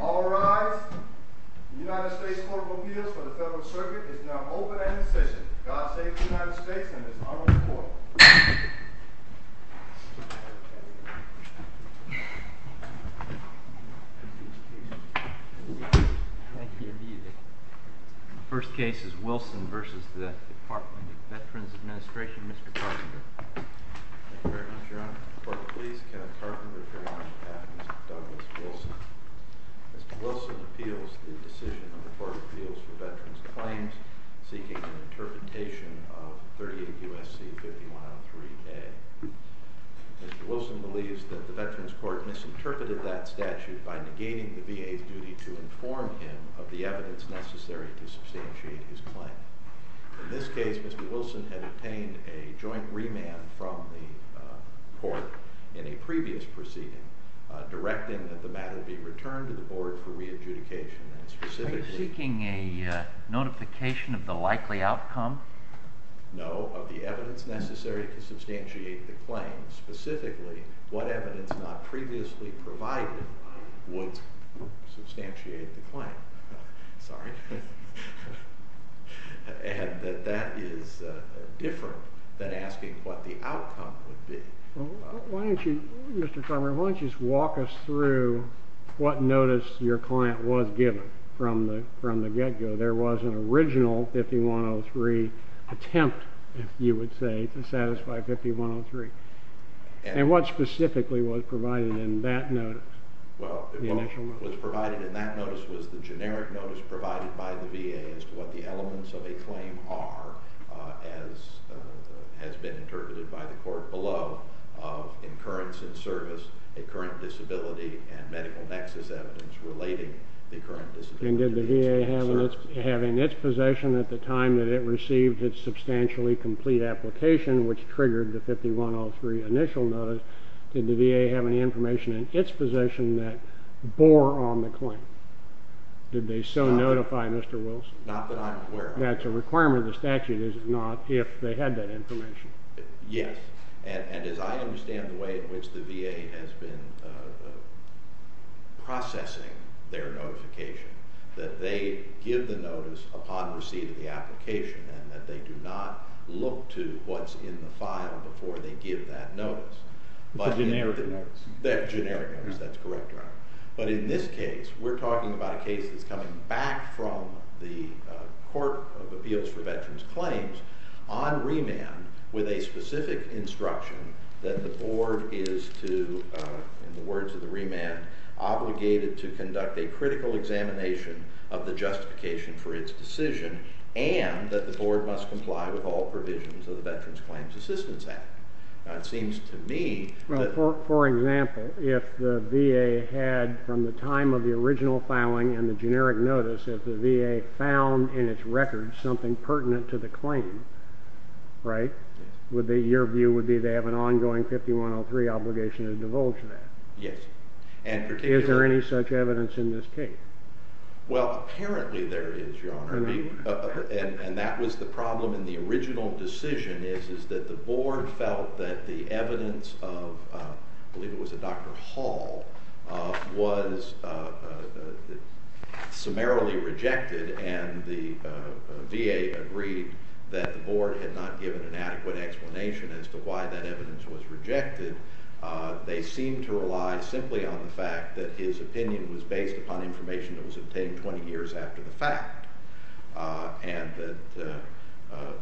All rise. The United States Court of Appeals for the Federal Circuit is now open and in session. God save the United States and its honorable court. Thank you. The first case is Wilson v. Department of Veterans Administration. Mr. Carpenter. Thank you very much, Your Honor. Court of Appeals, Kenneth Carpenter, Carolina Patrons, Douglas Wilson. Mr. Wilson appeals the decision of the Court of Appeals for Veterans Claims seeking an interpretation of 38 U.S.C. 5103A. Mr. Wilson believes that the Veterans Court misinterpreted that statute by negating the VA's duty to inform him of the evidence necessary to substantiate his claim. In this case, Mr. Wilson had obtained a joint remand from the court in a previous proceeding directing that the matter be returned to the board for re-adjudication and specifically— Are you seeking a notification of the likely outcome? No, of the evidence necessary to substantiate the claim, specifically what evidence not previously provided would substantiate the claim. Sorry. And that that is different than asking what the outcome would be. Why don't you, Mr. Carpenter, why don't you just walk us through what notice your client was given from the get-go? There was an original 5103 attempt, if you would say, to satisfy 5103. And what specifically was provided in that notice? Well, what was provided in that notice was the generic notice provided by the VA as to what the elements of a claim are, as has been interpreted by the court below, of incurrence in service, a current disability, and medical nexus evidence relating the current disability. And did the VA have in its possession at the time that it received its substantially complete application, which triggered the 5103 initial notice, did the VA have any information in its possession that bore on the claim? Did they so notify Mr. Wilson? Not that I'm aware of. That's a requirement of the statute, is it not, if they had that information? Yes. And as I understand the way in which the VA has been processing their notification, that they give the notice upon receiving the application and that they do not look to what's in the file before they give that notice. The generic notice. That's correct, Your Honor. But in this case, we're talking about a case that's coming back from the Court of Appeals for Veterans Claims on remand with a specific instruction that the board is to, in the words of the remand, obligated to conduct a critical examination of the justification for its decision and that the board must comply with all provisions of the Veterans Claims Assistance Act. Well, for example, if the VA had, from the time of the original filing and the generic notice, if the VA found in its records something pertinent to the claim, right, your view would be they have an ongoing 5103 obligation to divulge that? Yes. Is there any such evidence in this case? Well, apparently there is, Your Honor, and that was the problem in the original decision is that the board felt that the evidence of, I believe it was a Dr. Hall, was summarily rejected and the VA agreed that the board had not given an adequate explanation as to why that evidence was rejected. They seemed to rely simply on the fact that his opinion was based upon information that was obtained 20 years after the fact. And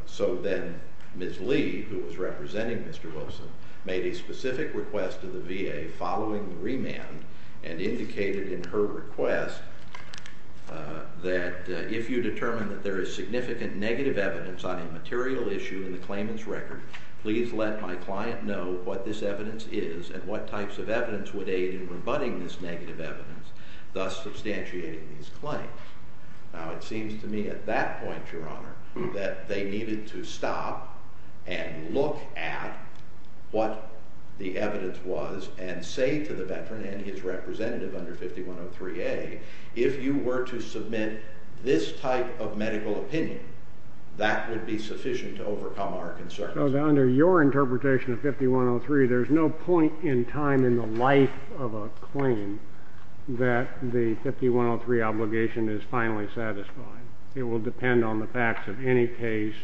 so then Ms. Lee, who was representing Mr. Wilson, made a specific request to the VA following the remand and indicated in her request that if you determine that there is significant negative evidence on a material issue in the claimant's record, please let my client know what this evidence is and what types of evidence would aid in rebutting this negative evidence, thus substantiating his claim. Now, it seems to me at that point, Your Honor, that they needed to stop and look at what the evidence was and say to the veteran and his representative under 5103A, if you were to submit this type of medical opinion, that would be sufficient to overcome our concerns. So under your interpretation of 5103, there's no point in time in the life of a claim that the 5103 obligation is finally satisfied. It will depend on the facts of any case.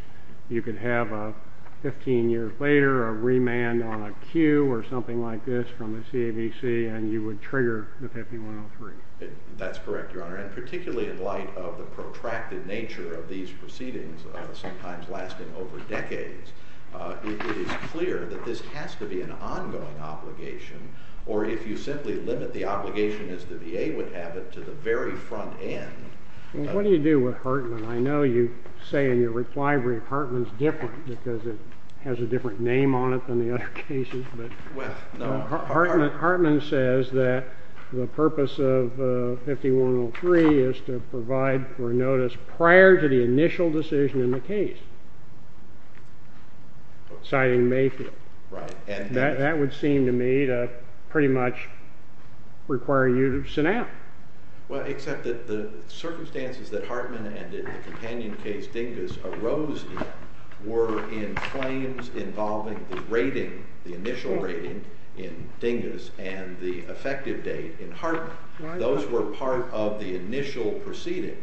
You could have 15 years later a remand on a cue or something like this from the CAVC and you would trigger the 5103. That's correct, Your Honor. And particularly in light of the protracted nature of these proceedings, sometimes lasting over decades, it is clear that this has to be an ongoing obligation. Or if you simply limit the obligation as the VA would have it to the very front end. What do you do with Hartman? I know you say in your reply brief Hartman's different because it has a different name on it than the other cases. Hartman says that the purpose of 5103 is to provide for notice prior to the initial decision in the case, citing Mayfield. Right. That would seem to me to pretty much require you to sit down. Well, except that the circumstances that Hartman and in the companion case Dingas arose in were in claims involving the rating, the initial rating in Dingas and the effective date in Hartman. Those were part of the initial proceeding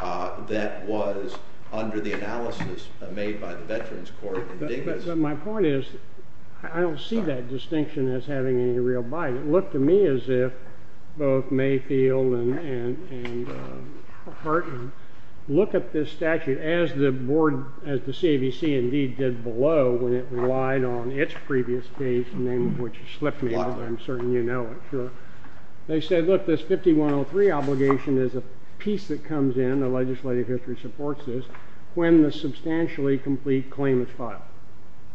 that was under the analysis made by the Veterans Court in Dingas. But my point is I don't see that distinction as having any real bias. And it looked to me as if both Mayfield and Hartman look at this statute as the board, as the CAVC indeed did below when it relied on its previous case, the name of which has slipped me, but I'm certain you know it. They said, look, this 5103 obligation is a piece that comes in, the legislative history supports this, when the substantially complete claim is filed.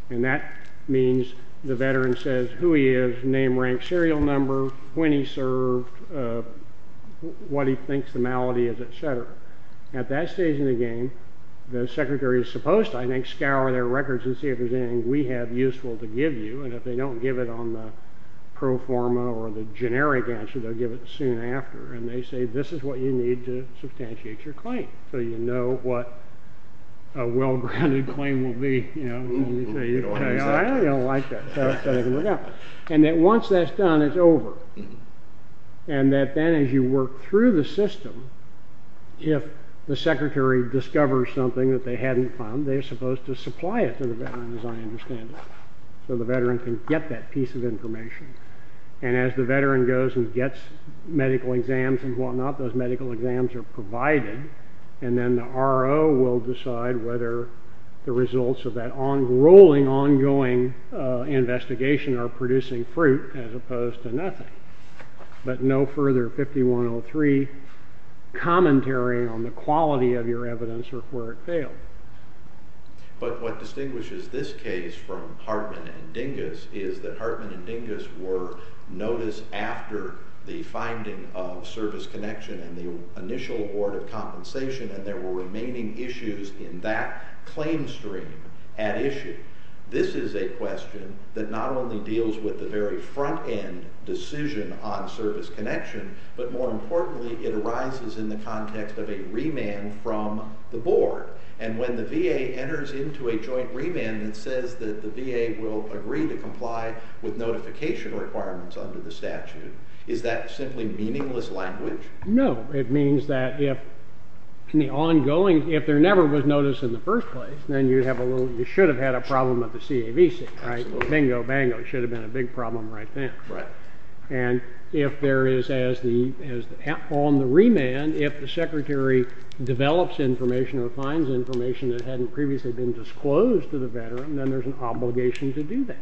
And that means the veteran says who he is, name, rank, serial number, when he served, what he thinks the malady is, et cetera. At that stage in the game, the secretary is supposed to, I think, scour their records and see if there's anything we have useful to give you. And if they don't give it on the pro forma or the generic answer, they'll give it soon after. And they say this is what you need to substantiate your claim. So you know what a well-grounded claim will be. You know, I don't like that. And that once that's done, it's over. And that then as you work through the system, if the secretary discovers something that they hadn't found, they're supposed to supply it to the veteran, as I understand it, so the veteran can get that piece of information. And as the veteran goes and gets medical exams and whatnot, those medical exams are provided. And then the RO will decide whether the results of that rolling, ongoing investigation are producing fruit as opposed to nothing. But no further 5103 commentary on the quality of your evidence or where it failed. But what distinguishes this case from Hartman and Dingus is that Hartman and Dingus were noticed after the finding of service connection and the initial award of compensation, and there were remaining issues in that claim stream at issue. This is a question that not only deals with the very front end decision on service connection, but more importantly, it arises in the context of a remand from the board. And when the VA enters into a joint remand that says that the VA will agree to comply with notification requirements under the statute, is that simply meaningless language? No. It means that if there never was notice in the first place, then you should have had a problem with the CAVC, right? Absolutely. Bingo, bingo. It should have been a big problem right then. Right. And if there is, on the remand, if the secretary develops information or finds information that hadn't previously been disclosed to the veteran, then there's an obligation to do that.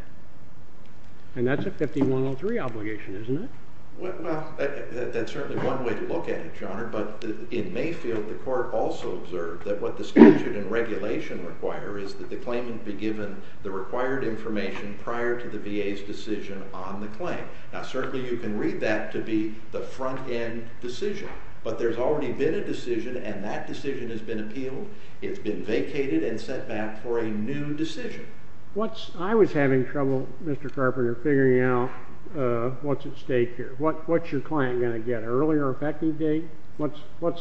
And that's a 5103 obligation, isn't it? Well, that's certainly one way to look at it, Your Honor. But in Mayfield, the court also observed that what the statute and regulation require is that the claimant be given the required information prior to the VA's decision on the claim. Now, certainly you can read that to be the front end decision. But there's already been a decision, and that decision has been appealed. It's been vacated and set back for a new decision. I was having trouble, Mr. Carpenter, figuring out what's at stake here. What's your client going to get, an earlier effective date?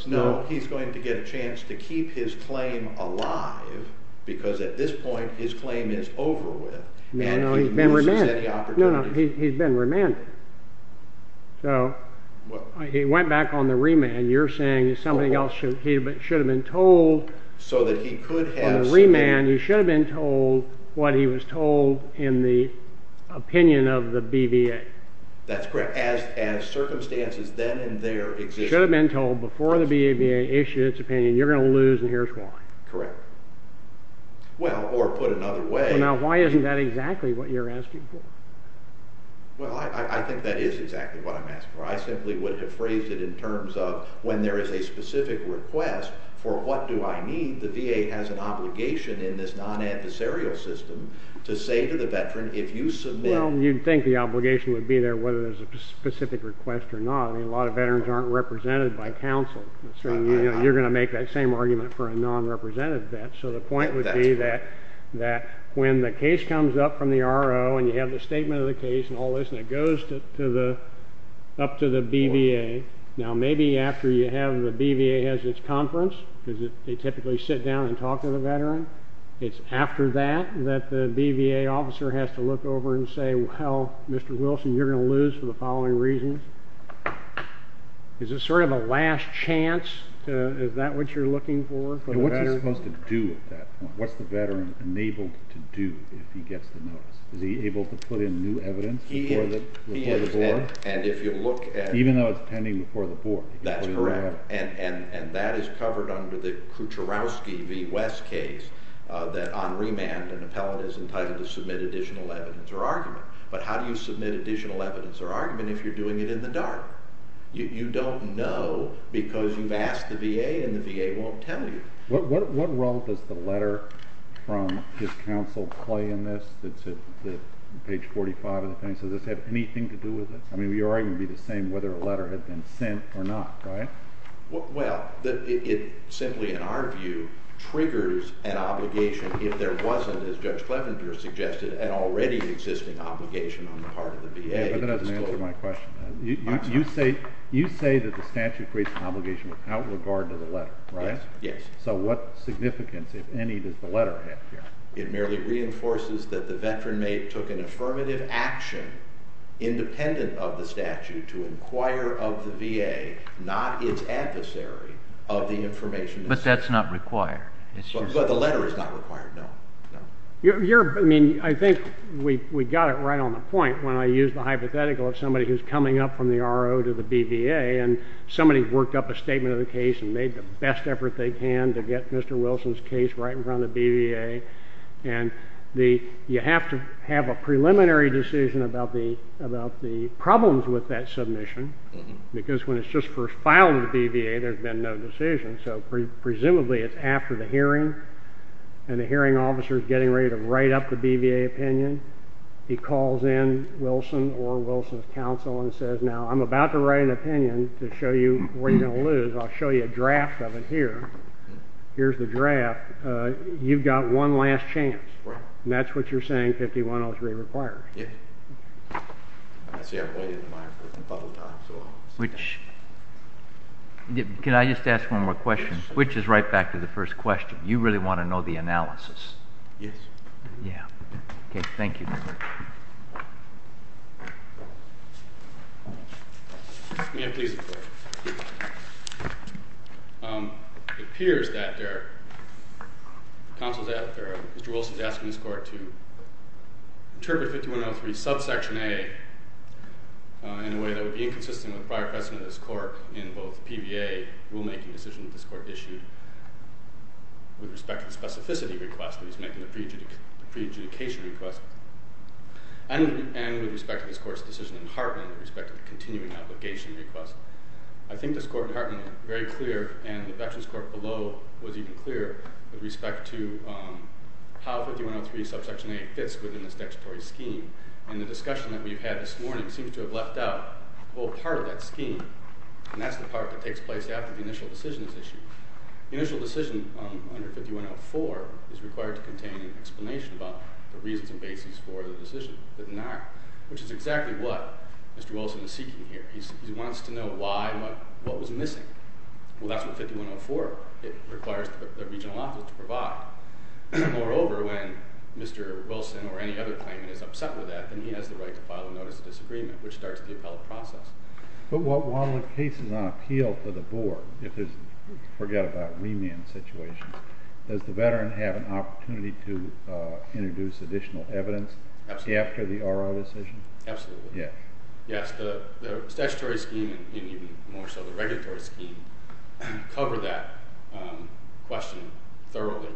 No, he's going to get a chance to keep his claim alive because at this point his claim is over with and he loses any opportunity. No, no, he's been remanded. So he went back on the remand. And you're saying something else should have been told on the remand. He should have been told what he was told in the opinion of the BVA. That's correct. As circumstances then and there existed. He should have been told before the BVA issued its opinion, you're going to lose and here's why. Correct. Well, or put another way. Now, why isn't that exactly what you're asking for? Well, I think that is exactly what I'm asking for. I simply would have phrased it in terms of when there is a specific request for what do I need, the VA has an obligation in this non-adversarial system to say to the veteran if you submit. Well, you'd think the obligation would be there whether there's a specific request or not. I mean, a lot of veterans aren't represented by counsel. You're going to make that same argument for a non-represented vet. So the point would be that when the case comes up from the RO and you have the statement of the case and all this and it goes up to the BVA, now maybe after the BVA has its conference, because they typically sit down and talk to the veteran, it's after that that the BVA officer has to look over and say, well, Mr. Wilson, you're going to lose for the following reasons. Is this sort of a last chance? Is that what you're looking for? What's he supposed to do at that point? What's the veteran enabled to do if he gets the notice? Is he able to put in new evidence before the board? Even though it's pending before the board. That's correct. And that is covered under the Kucherowski v. West case that on remand an appellate is entitled to submit additional evidence or argument. But how do you submit additional evidence or argument if you're doing it in the dark? You don't know because you've asked the VA and the VA won't tell you. What role does the letter from his counsel play in this that's at page 45 of the pen? Does this have anything to do with this? I mean, your argument would be the same whether a letter had been sent or not, right? Well, it simply, in our view, triggers an obligation if there wasn't, as Judge Clevenger suggested, an already existing obligation on the part of the VA. That doesn't answer my question. You say that the statute creates an obligation without regard to the letter, right? Yes. So what significance, if any, does the letter have here? It merely reinforces that the veteran took an affirmative action independent of the statute to inquire of the VA, not its adversary, of the information necessary. But that's not required. But the letter is not required, no. I think we got it right on the point when I used the hypothetical of somebody who's coming up from the RO to the BVA and somebody's worked up a statement of the case and made the best effort they can to get Mr. Wilson's case right in front of the BVA. And you have to have a preliminary decision about the problems with that submission because when it's just first filed to the BVA, there's been no decision. So presumably it's after the hearing and the hearing officer is getting ready to write up the BVA opinion. He calls in Wilson or Wilson's counsel and says, Now, I'm about to write an opinion to show you where you're going to lose. I'll show you a draft of it here. Here's the draft. You've got one last chance. And that's what you're saying 5103 requires. Yes. I see I've waited in line for a couple of times. Can I just ask one more question? Which is right back to the first question. You really want to know the analysis. Yes. Yeah. Okay. Thank you. May I please have a question? It appears that Mr. Wilson is asking this court to interpret 5103 subsection A in a way that would be inconsistent with the prior precedent of this court in both the BVA rulemaking decision that this court issued with respect to the specificity request that is making the pre-adjudication request and with respect to this court's decision in Hartman with respect to the continuing obligation request. I think this court in Hartman was very clear and the Veterans Court below was even clearer with respect to how 5103 subsection A fits within this statutory scheme. And the discussion that we've had this morning seems to have left out a whole part of that scheme. And that's the part that takes place after the initial decision is issued. The initial decision under 5104 is required to contain an explanation about the reasons and basis for the decision, but not, which is exactly what Mr. Wilson is seeking here. He wants to know why, what was missing. Well, that's what 5104 requires the regional office to provide. Moreover, when Mr. Wilson or any other claimant is upset with that, then he has the right to file a notice of disagreement, which starts the appellate process. But while the case is on appeal for the board, if there's, forget about remand situations, does the veteran have an opportunity to introduce additional evidence after the RO decision? Absolutely. Yes. Yes, the statutory scheme and even more so the regulatory scheme cover that question thoroughly.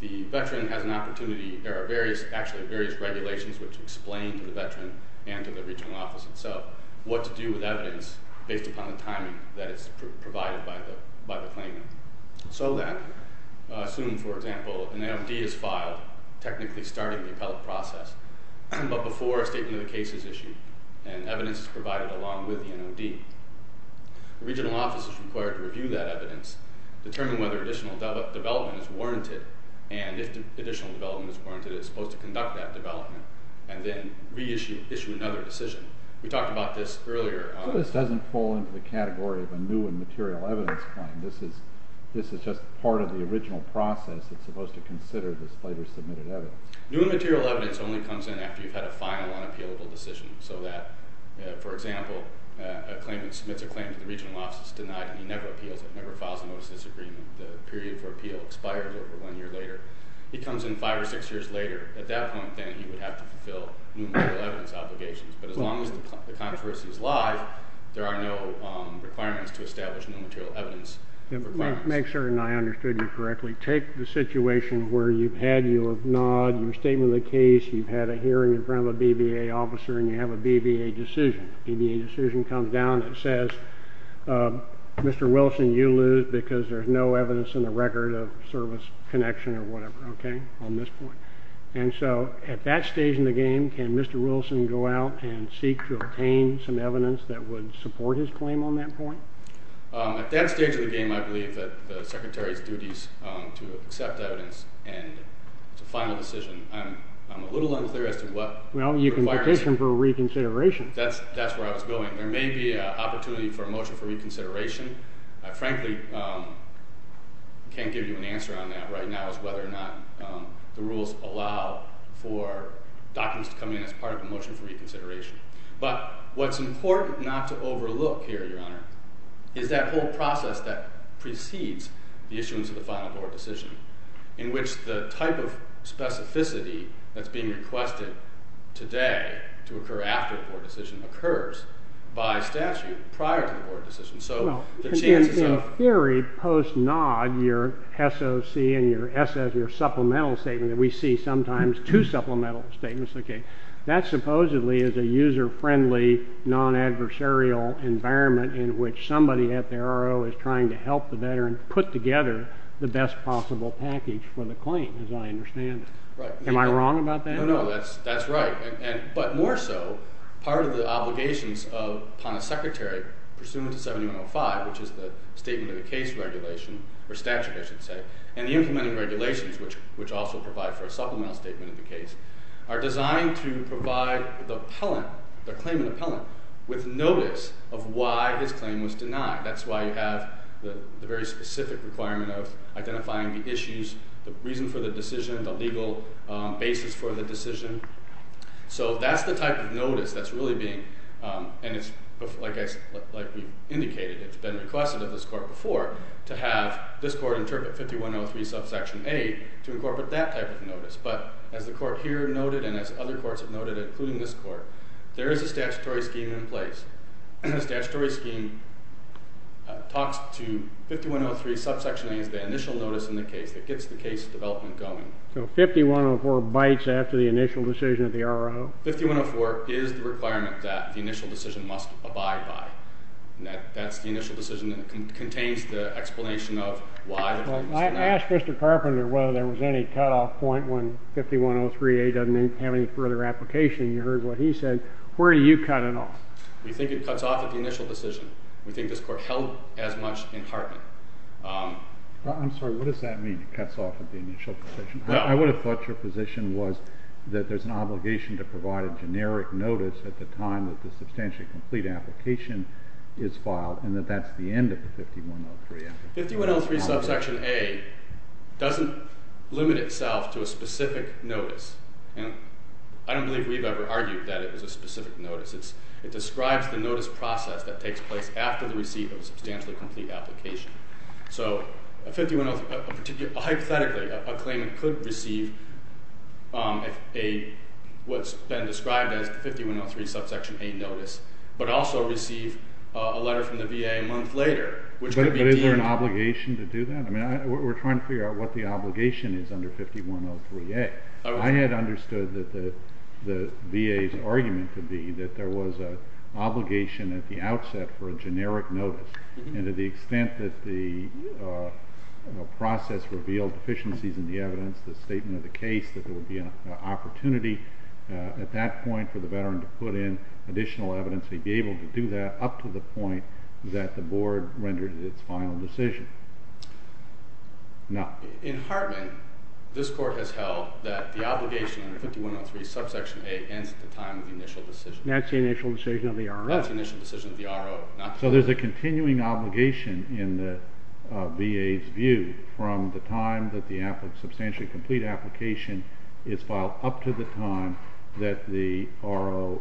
The veteran has an opportunity. There are various, actually various regulations which explain to the veteran and to the regional office itself what to do with evidence based upon the timing that is provided by the claimant. So then, assume, for example, an NOD is filed, technically starting the appellate process, but before a statement of the case is issued and evidence is provided along with the NOD. The regional office is required to review that evidence, determine whether additional development is warranted, and if additional development is warranted, it's supposed to conduct that development, and then reissue another decision. We talked about this earlier. So this doesn't fall into the category of a new and material evidence claim. This is just part of the original process. It's supposed to consider this later submitted evidence. New and material evidence only comes in after you've had a final unappealable decision, so that, for example, a claimant submits a claim to the regional office, it's denied, and he never appeals it, never files a notice of disagreement. The period for appeal expires over one year later. He comes in five or six years later. At that point, then, he would have to fulfill new and material evidence obligations. But as long as the controversy is live, there are no requirements to establish new and material evidence requirements. Make sure I understood you correctly. Take the situation where you've had your NOD, your statement of the case, you've had a hearing in front of a BBA officer, and you have a BBA decision. The BBA decision comes down and it says, Mr. Wilson, you lose because there's no evidence in the record of service connection or whatever, okay, on this point. And so at that stage in the game, can Mr. Wilson go out and seek to obtain some evidence that would support his claim on that point? At that stage of the game, I believe that the secretary's duty is to accept evidence and it's a final decision. I'm a little unclear as to what the requirements are. Well, you can petition for a reconsideration. That's where I was going. There may be an opportunity for a motion for reconsideration. I frankly can't give you an answer on that right now as to whether or not the rules allow for documents to come in as part of a motion for reconsideration. But what's important not to overlook here, Your Honor, is that whole process that precedes the issuance of the final board decision in which the type of specificity that's being requested today to occur after the board decision occurs by statute prior to the board decision. In theory, post-nod, your SOC and your supplemental statement that we see sometimes, two supplemental statements, that supposedly is a user-friendly, non-adversarial environment in which somebody at the RO is trying to help the veteran put together the best possible package for the claim, as I understand it. Am I wrong about that? No, no, that's right. But more so, part of the obligations upon a secretary, pursuant to 7105, which is the Statement of the Case Regulation, or statute, I should say, and the implementing regulations, which also provide for a supplemental statement of the case, are designed to provide the claimant appellant with notice of why his claim was denied. That's why you have the very specific requirement of identifying the issues, the reason for the decision, the legal basis for the decision. So that's the type of notice that's really being... And it's, like we indicated, it's been requested of this court before to have this court interpret 5103 subsection A to incorporate that type of notice. But as the court here noted, and as other courts have noted, including this court, there is a statutory scheme in place. The statutory scheme talks to 5103 subsection A as the initial notice in the case that gets the case development going. So 5104 bites after the initial decision of the R.O.? 5104 is the requirement that the initial decision must abide by. That's the initial decision, and it contains the explanation of why... I asked Mr. Carpenter whether there was any cutoff point when 5103A doesn't have any further application. You heard what he said. Where do you cut it off? We think it cuts off at the initial decision. We think this court held as much in Hartman. I'm sorry, what does that mean, it cuts off at the initial decision? I would have thought your position was that there's an obligation to provide a generic notice at the time that the substantially complete application is filed and that that's the end of the 5103 application. 5103 subsection A doesn't limit itself to a specific notice. I don't believe we've ever argued that it was a specific notice. It describes the notice process that takes place after the receipt of a substantially complete application. So hypothetically, a claimant could receive what's been described as 5103 subsection A notice, but also receive a letter from the VA a month later, which could be deemed... But is there an obligation to do that? We're trying to figure out what the obligation is under 5103A. I had understood that the VA's argument could be that there was an obligation at the outset for a generic notice, and to the extent that the process revealed deficiencies in the evidence, the statement of the case, that there would be an opportunity at that point for the veteran to put in additional evidence, he'd be able to do that up to the point that the board rendered its final decision. No. In Hartman, this Court has held that the obligation under 5103 subsection A ends at the time of the initial decision. That's the initial decision of the R.O. That's the initial decision of the R.O. So there's a continuing obligation in the VA's view from the time that the substantially complete application is filed up to the time that the R.O.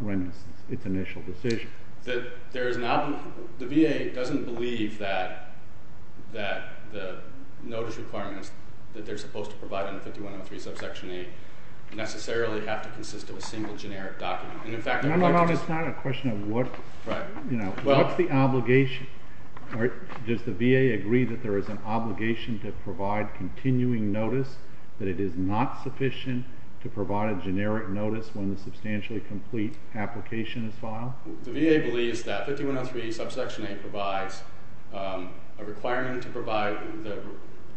renders its initial decision. The VA doesn't believe that the notice requirements that they're supposed to provide under 5103 subsection A necessarily have to consist of a single generic document. It's not a question of what's the obligation. Does the VA agree that there is an obligation to provide continuing notice, that it is not sufficient to provide a generic notice when the substantially complete application is filed? The VA believes that 5103 subsection A provides a requirement to provide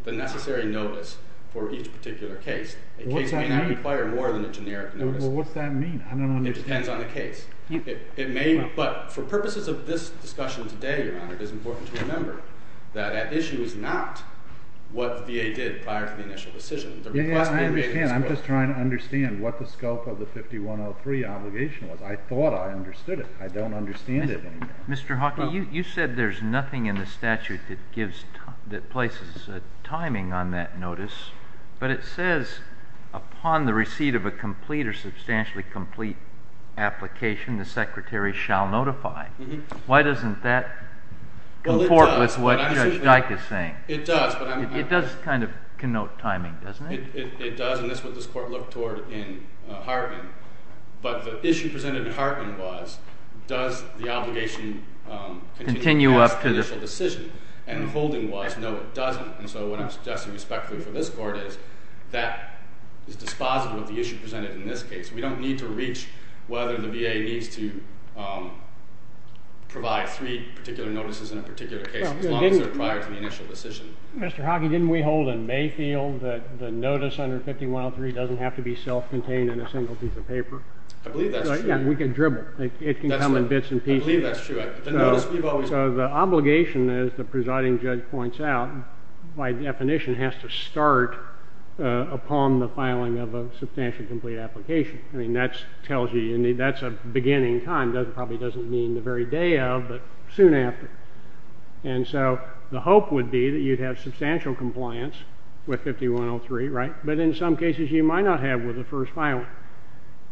the necessary notice for each particular case. A case may not require more than a generic notice. Well, what's that mean? It depends on the case. But for purposes of this discussion today, Your Honor, it is important to remember that that issue is not what the VA did prior to the initial decision. I understand. I'm just trying to understand what the scope of the 5103 obligation was. I thought I understood it. I don't understand it anymore. Mr. Hawkey, you said there's nothing in the statute that places a timing on that notice, but it says upon the receipt of a complete or substantially complete application, the Secretary shall notify. It does, but I'm not sure. It does, and that's what this Court looked toward in Hartman. But the issue presented in Hartman was, does the obligation continue past the initial decision? And the holding was, no, it doesn't. And so what I'm suggesting respectfully for this Court is that is dispositive of the issue presented in this case. We don't need to reach whether the VA needs to provide three particular notices in a particular case as long as they're prior to the initial decision. Mr. Hawkey, didn't we hold in Mayfield that the notice under 5103 doesn't have to be self-contained in a single piece of paper? I believe that's true. Yeah, we can dribble. It can come in bits and pieces. I believe that's true. So the obligation, as the presiding judge points out, by definition has to start upon the filing of a substantially complete application. I mean, that tells you that's a beginning time. It probably doesn't mean the very day of, but soon after. And so the hope would be that you'd have substantial compliance with 5103, right? But in some cases you might not have with the first filing.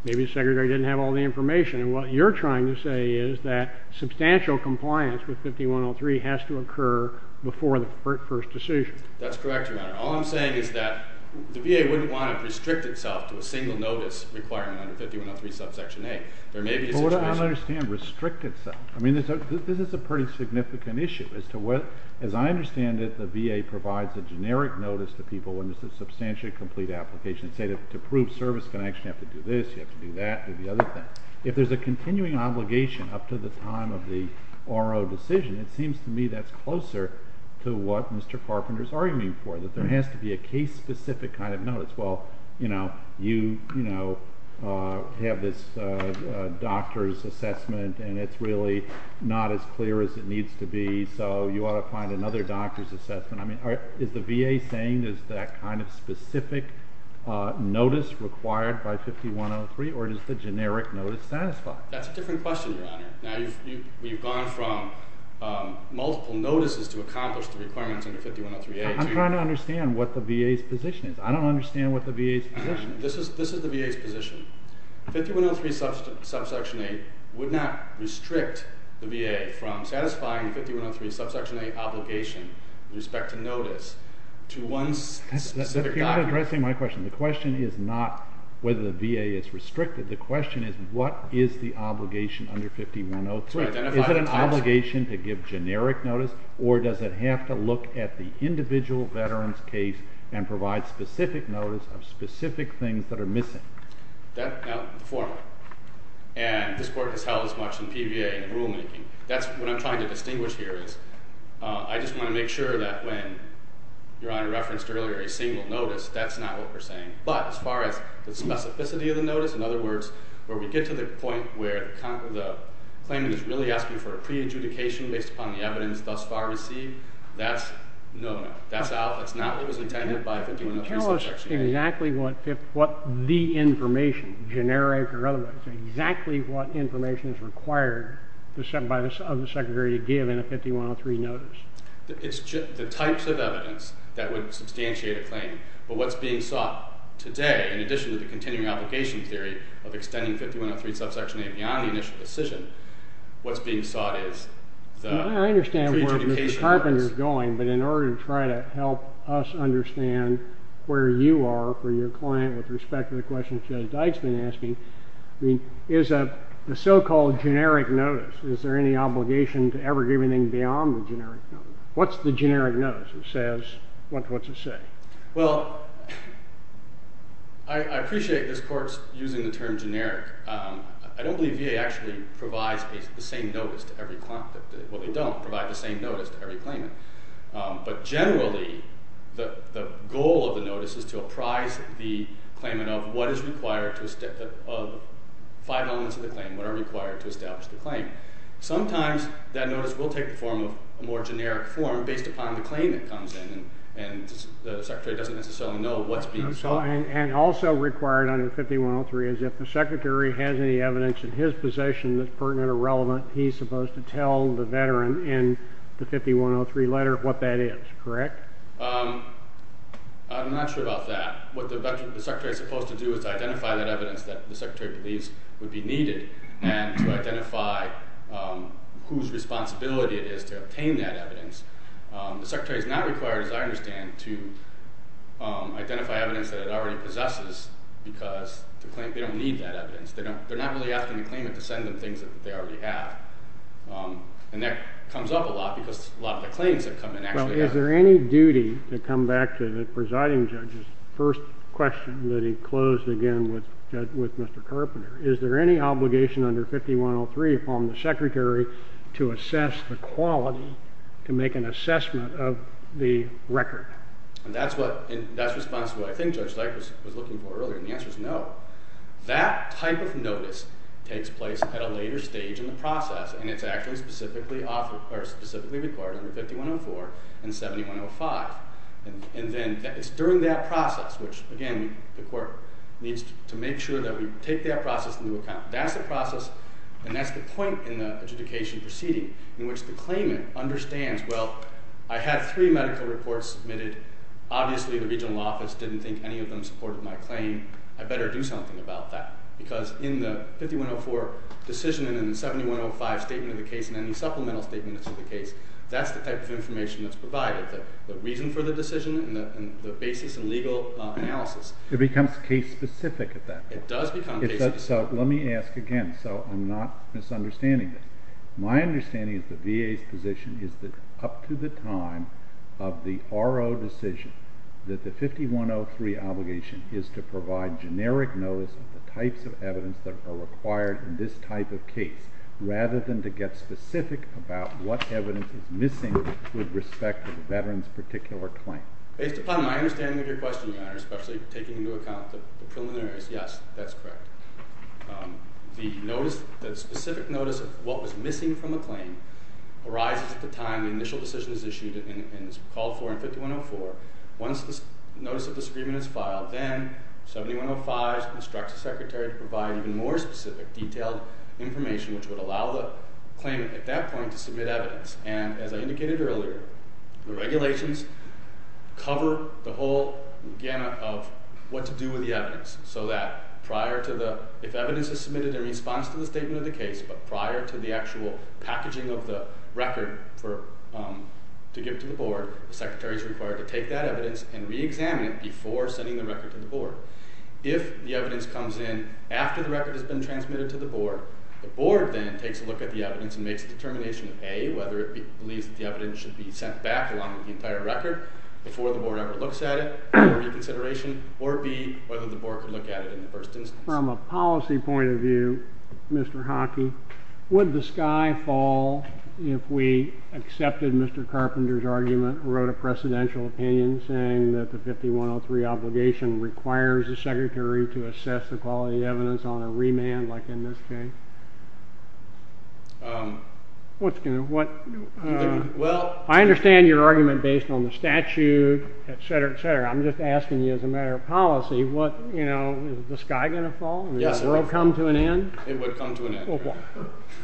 Maybe the secretary didn't have all the information. And what you're trying to say is that substantial compliance with 5103 has to occur before the first decision. That's correct, Your Honor. All I'm saying is that the VA wouldn't want to restrict itself to a single notice requirement under 5103 subsection A. There may be a situation. I don't understand restrict itself. I mean, this is a pretty significant issue. As I understand it, the VA provides a generic notice to people when it's a substantially complete application. Say, to prove service connection, you have to do this, you have to do that, do the other thing. If there's a continuing obligation up to the time of the RO decision, it seems to me that's closer to what Mr. Carpenter is arguing for, that there has to be a case-specific kind of notice. Well, you know, you have this doctor's assessment and it's really not as clear as it needs to be, so you ought to find another doctor's assessment. I mean, is the VA saying there's that kind of specific notice required by 5103 or does the generic notice satisfy? That's a different question, Your Honor. Now, you've gone from multiple notices to accomplish the requirements under 5103A. I'm trying to understand what the VA's position is. This is the VA's position. 5103 subsection A would not restrict the VA from satisfying the 5103 subsection A obligation with respect to notice to one specific doctor. That's not addressing my question. The question is not whether the VA is restricted. The question is what is the obligation under 5103. Is it an obligation to give generic notice or does it have to look at the individual veteran's case and provide specific notice of specific things that are missing? No, the former. And this Court has held as much in PVA and rulemaking. That's what I'm trying to distinguish here is I just want to make sure that when Your Honor referenced earlier a single notice, that's not what we're saying. But as far as the specificity of the notice, in other words, where we get to the point where the claimant is really asking for a pre-adjudication based upon the evidence thus far received, that's no, no. That's not what was intended by 5103 subsection A. That's exactly what the information, generic or otherwise, exactly what information is required of the Secretary to give in a 5103 notice. It's the types of evidence that would substantiate a claim. But what's being sought today, in addition to the continuing obligation theory of extending 5103 subsection A beyond the initial decision, what's being sought is the pre-adjudication notice. I understand where Mr. Carpenter is going, but in order to try to help us understand where you are for your client with respect to the question Judge Dyke's been asking, is the so-called generic notice, is there any obligation to ever give anything beyond the generic notice? What's the generic notice? What's it say? Well, I appreciate this Court's using the term generic. I don't believe VA actually provides the same notice to every client. Well, they don't provide the same notice to every claimant. But generally, the goal of the notice is to apprise the claimant of what is required of 5 elements of the claim, what are required to establish the claim. Sometimes that notice will take the form of a more generic form based upon the claim that comes in, and the Secretary doesn't necessarily know what's being sought. And also required under 5103 is if the Secretary has any evidence in his possession that's pertinent or relevant, he's supposed to tell the veteran in the 5103 letter what that is, correct? I'm not sure about that. What the Secretary's supposed to do is identify that evidence that the Secretary believes would be needed and to identify whose responsibility it is to obtain that evidence. The Secretary's not required, as I understand, to identify evidence that it already possesses because they don't need that evidence. They're not really asking the claimant to send them things that they already have. And that comes up a lot because a lot of the claims that come in actually have that. Well, is there any duty, to come back to the presiding judge's first question that he closed again with Mr. Carpenter, is there any obligation under 5103 upon the Secretary to assess the quality to make an assessment of the record? And that's responsible. I think Judge Dyke was looking for earlier, and the answer is no. That type of notice takes place at a later stage in the process, and it's actually specifically required under 5104 and 7105. And then it's during that process, which, again, the court needs to make sure that we take that process into account. That's the process, and that's the point in the adjudication proceeding in which the claimant understands, well, I had three medical reports submitted. Obviously, the regional office didn't think any of them supported my claim. I better do something about that. Because in the 5104 decision and in the 7105 statement of the case and any supplemental statements of the case, that's the type of information that's provided, the reason for the decision and the basis in legal analysis. It becomes case-specific at that point. It does become case-specific. So let me ask again, so I'm not misunderstanding this. My understanding is the VA's position is that up to the time of the RO decision that the 5103 obligation is to provide generic notice of the types of evidence that are required in this type of case rather than to get specific about what evidence is missing with respect to the veteran's particular claim. Based upon my understanding of your question, Your Honor, especially taking into account the preliminaries, yes, that's correct. The specific notice of what was missing from the claim arises at the time the initial decision is issued and is called for in 5104. Once the notice of disagreement is filed, then 7105 instructs the Secretary to provide even more specific detailed information which would allow the claimant at that point to submit evidence. And as I indicated earlier, the regulations cover the whole gamut of what to do with the evidence so that if evidence is submitted in response to the statement of the case but prior to the actual packaging of the record to give to the Board, the Secretary is required to take that evidence and reexamine it before sending the record to the Board. If the evidence comes in after the record has been transmitted to the Board, the Board then takes a look at the evidence and makes a determination of A, whether it believes that the evidence should be sent back along with the entire record before the Board ever looks at it for reconsideration, or B, whether the Board can look at it in the first instance. From a policy point of view, Mr. Hockey, would the sky fall if we accepted Mr. Carpenter's argument and wrote a precedential opinion saying that the 5103 obligation requires the Secretary to assess the quality of evidence on a remand like in this case? I understand your argument based on the statute, etc., etc. I'm just asking you as a matter of policy, is the sky going to fall? Will that row come to an end? It would come to an end.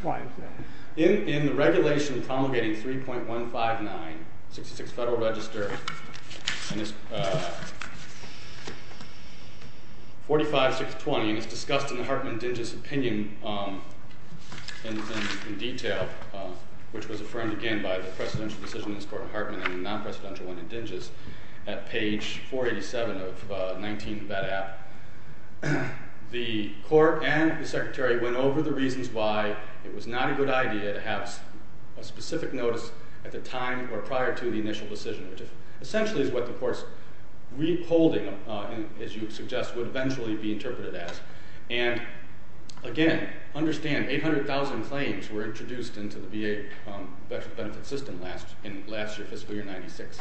Why is that? In the regulation promulgating 3.159, 66 Federal Register, 45620, and it's discussed in the Hartman-Dinges opinion in detail, which was affirmed again by the precedential decision in this court from Hartman in the non-precedential one in Dinges at page 487 of 19 of that act, the Court and the Secretary went over the reasons why it was not a good idea to have a specific notice at the time or prior to the initial decision, which essentially is what the Court's withholding, as you suggest, would eventually be interpreted as. And again, understand, 800,000 claims were introduced into the VA benefit system last year, fiscal year 96.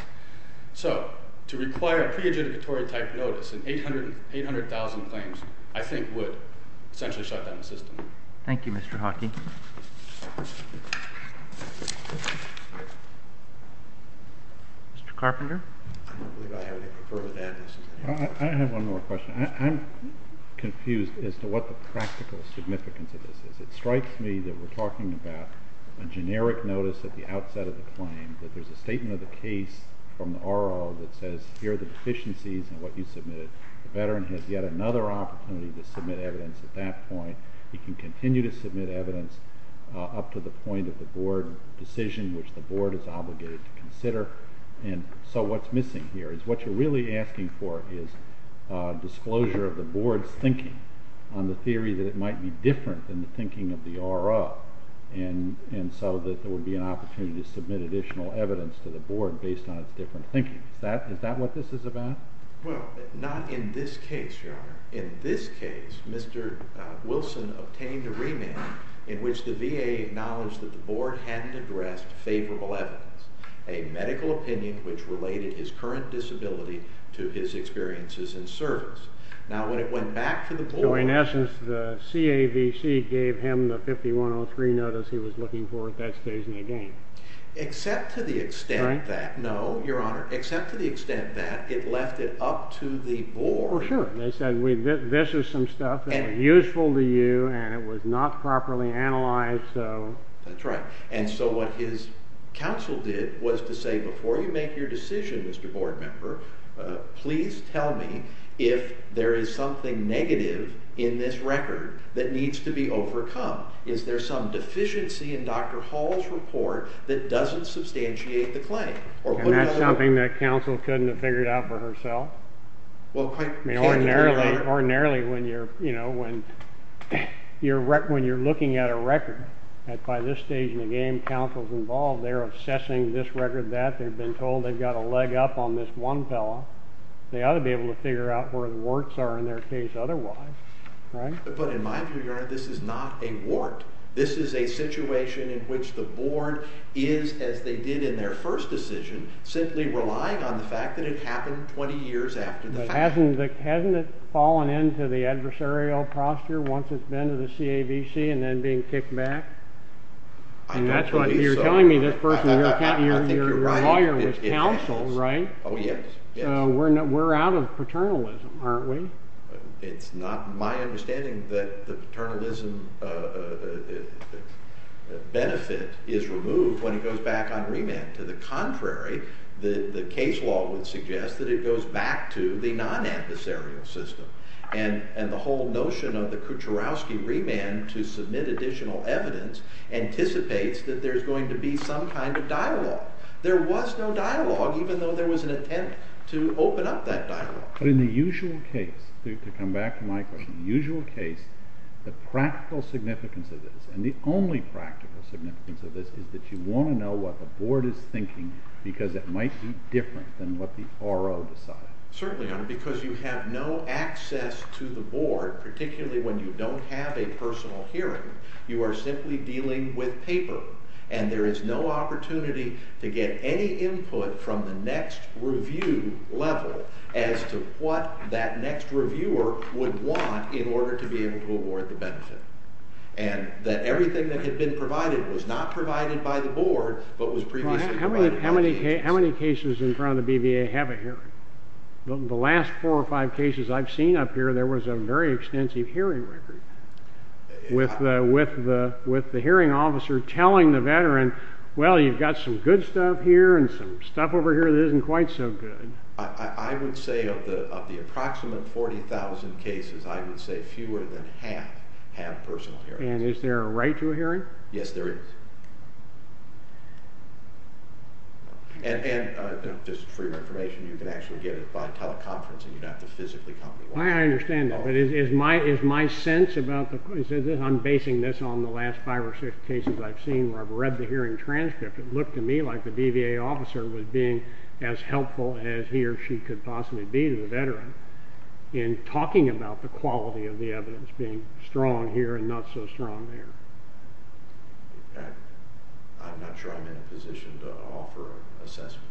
So to require a pre-adjudicatory type notice and 800,000 claims, I think would essentially shut down the system. Thank you, Mr. Hockey. Mr. Carpenter? I have one more question. I'm confused as to what the practical significance of this is. It strikes me that we're talking about a generic notice at the outset of the claim, that there's a statement of the case from the RO that says, here are the deficiencies in what you submitted. The veteran has yet another opportunity to submit evidence at that point. He can continue to submit evidence up to the point of the board decision, which the board is obligated to consider. And so what's missing here is what you're really asking for is disclosure of the board's thinking on the theory that it might be different than the thinking of the RO, and so that there would be an opportunity to submit additional evidence to the board based on its different thinking. Is that what this is about? Well, not in this case, Your Honor. In this case, Mr. Wilson obtained a remand in which the VA acknowledged that the board hadn't addressed favorable evidence, a medical opinion which related his current disability to his experiences in service. Now when it went back to the board... So in essence, the CAVC gave him the 5103 notice he was looking for. That stays in the game. Except to the extent that... Right? No, Your Honor. Except to the extent that it left it up to the board... Well, sure. They said, this is some stuff that was useful to you, and it was not properly analyzed, so... That's right. And so what his counsel did was to say, before you make your decision, Mr. Board Member, please tell me if there is something negative in this record that needs to be overcome. Is there some deficiency in Dr. Hall's report that doesn't substantiate the claim? And that's something that counsel couldn't have figured out for herself? Well, quite candidly, Your Honor. Ordinarily, when you're looking at a record, by this stage in the game, counsel's involved. They're assessing this record, that. They've got a leg up on this one fellow. They ought to be able to figure out where the warts are in their case otherwise. But in my view, Your Honor, this is not a wart. This is a situation in which the board is, as they did in their first decision, simply relying on the fact that it happened 20 years after the fact. But hasn't it fallen into the adversarial posture once it's been to the CAVC and then being kicked back? I don't believe so. But you're telling me this person, your lawyer, was counsel, right? Oh, yes. So we're out of paternalism, aren't we? It's not my understanding that the paternalism benefit is removed when it goes back on remand. To the contrary, the case law would suggest that it goes back to the non-adversarial system. And the whole notion of the Kucherowski remand to submit additional evidence anticipates that there's going to be some kind of dialogue. There was no dialogue, even though there was an attempt to open up that dialogue. But in the usual case, to come back to my question, in the usual case, the practical significance of this, and the only practical significance of this, is that you want to know what the board is thinking because it might be different than what the RO decided. Certainly, Your Honor, because you have no access to the board, particularly when you don't have a personal hearing. You are simply dealing with paper. And there is no opportunity to get any input from the next review level as to what that next reviewer would want in order to be able to award the benefit. And that everything that had been provided was not provided by the board, but was previously provided by the board. How many cases in front of the BVA have a hearing? The last four or five cases I've seen up here, there was a very extensive hearing record with the hearing officer telling the veteran, well, you've got some good stuff here and some stuff over here that isn't quite so good. I would say of the approximate 40,000 cases, I would say fewer than half have personal hearings. And is there a right to a hearing? Yes, there is. And just for your information, you can actually get it by teleconferencing. You don't have to physically come. I understand that. But is my sense about the... I'm basing this on the last five or six cases I've seen where I've read the hearing transcript. It looked to me like the BVA officer was being as helpful as he or she could possibly be to the veteran in talking about the quality of the evidence being strong here and not so strong there. I'm not sure I'm in a position to offer an assessment.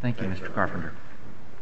Thank you, Mr. Carpenter.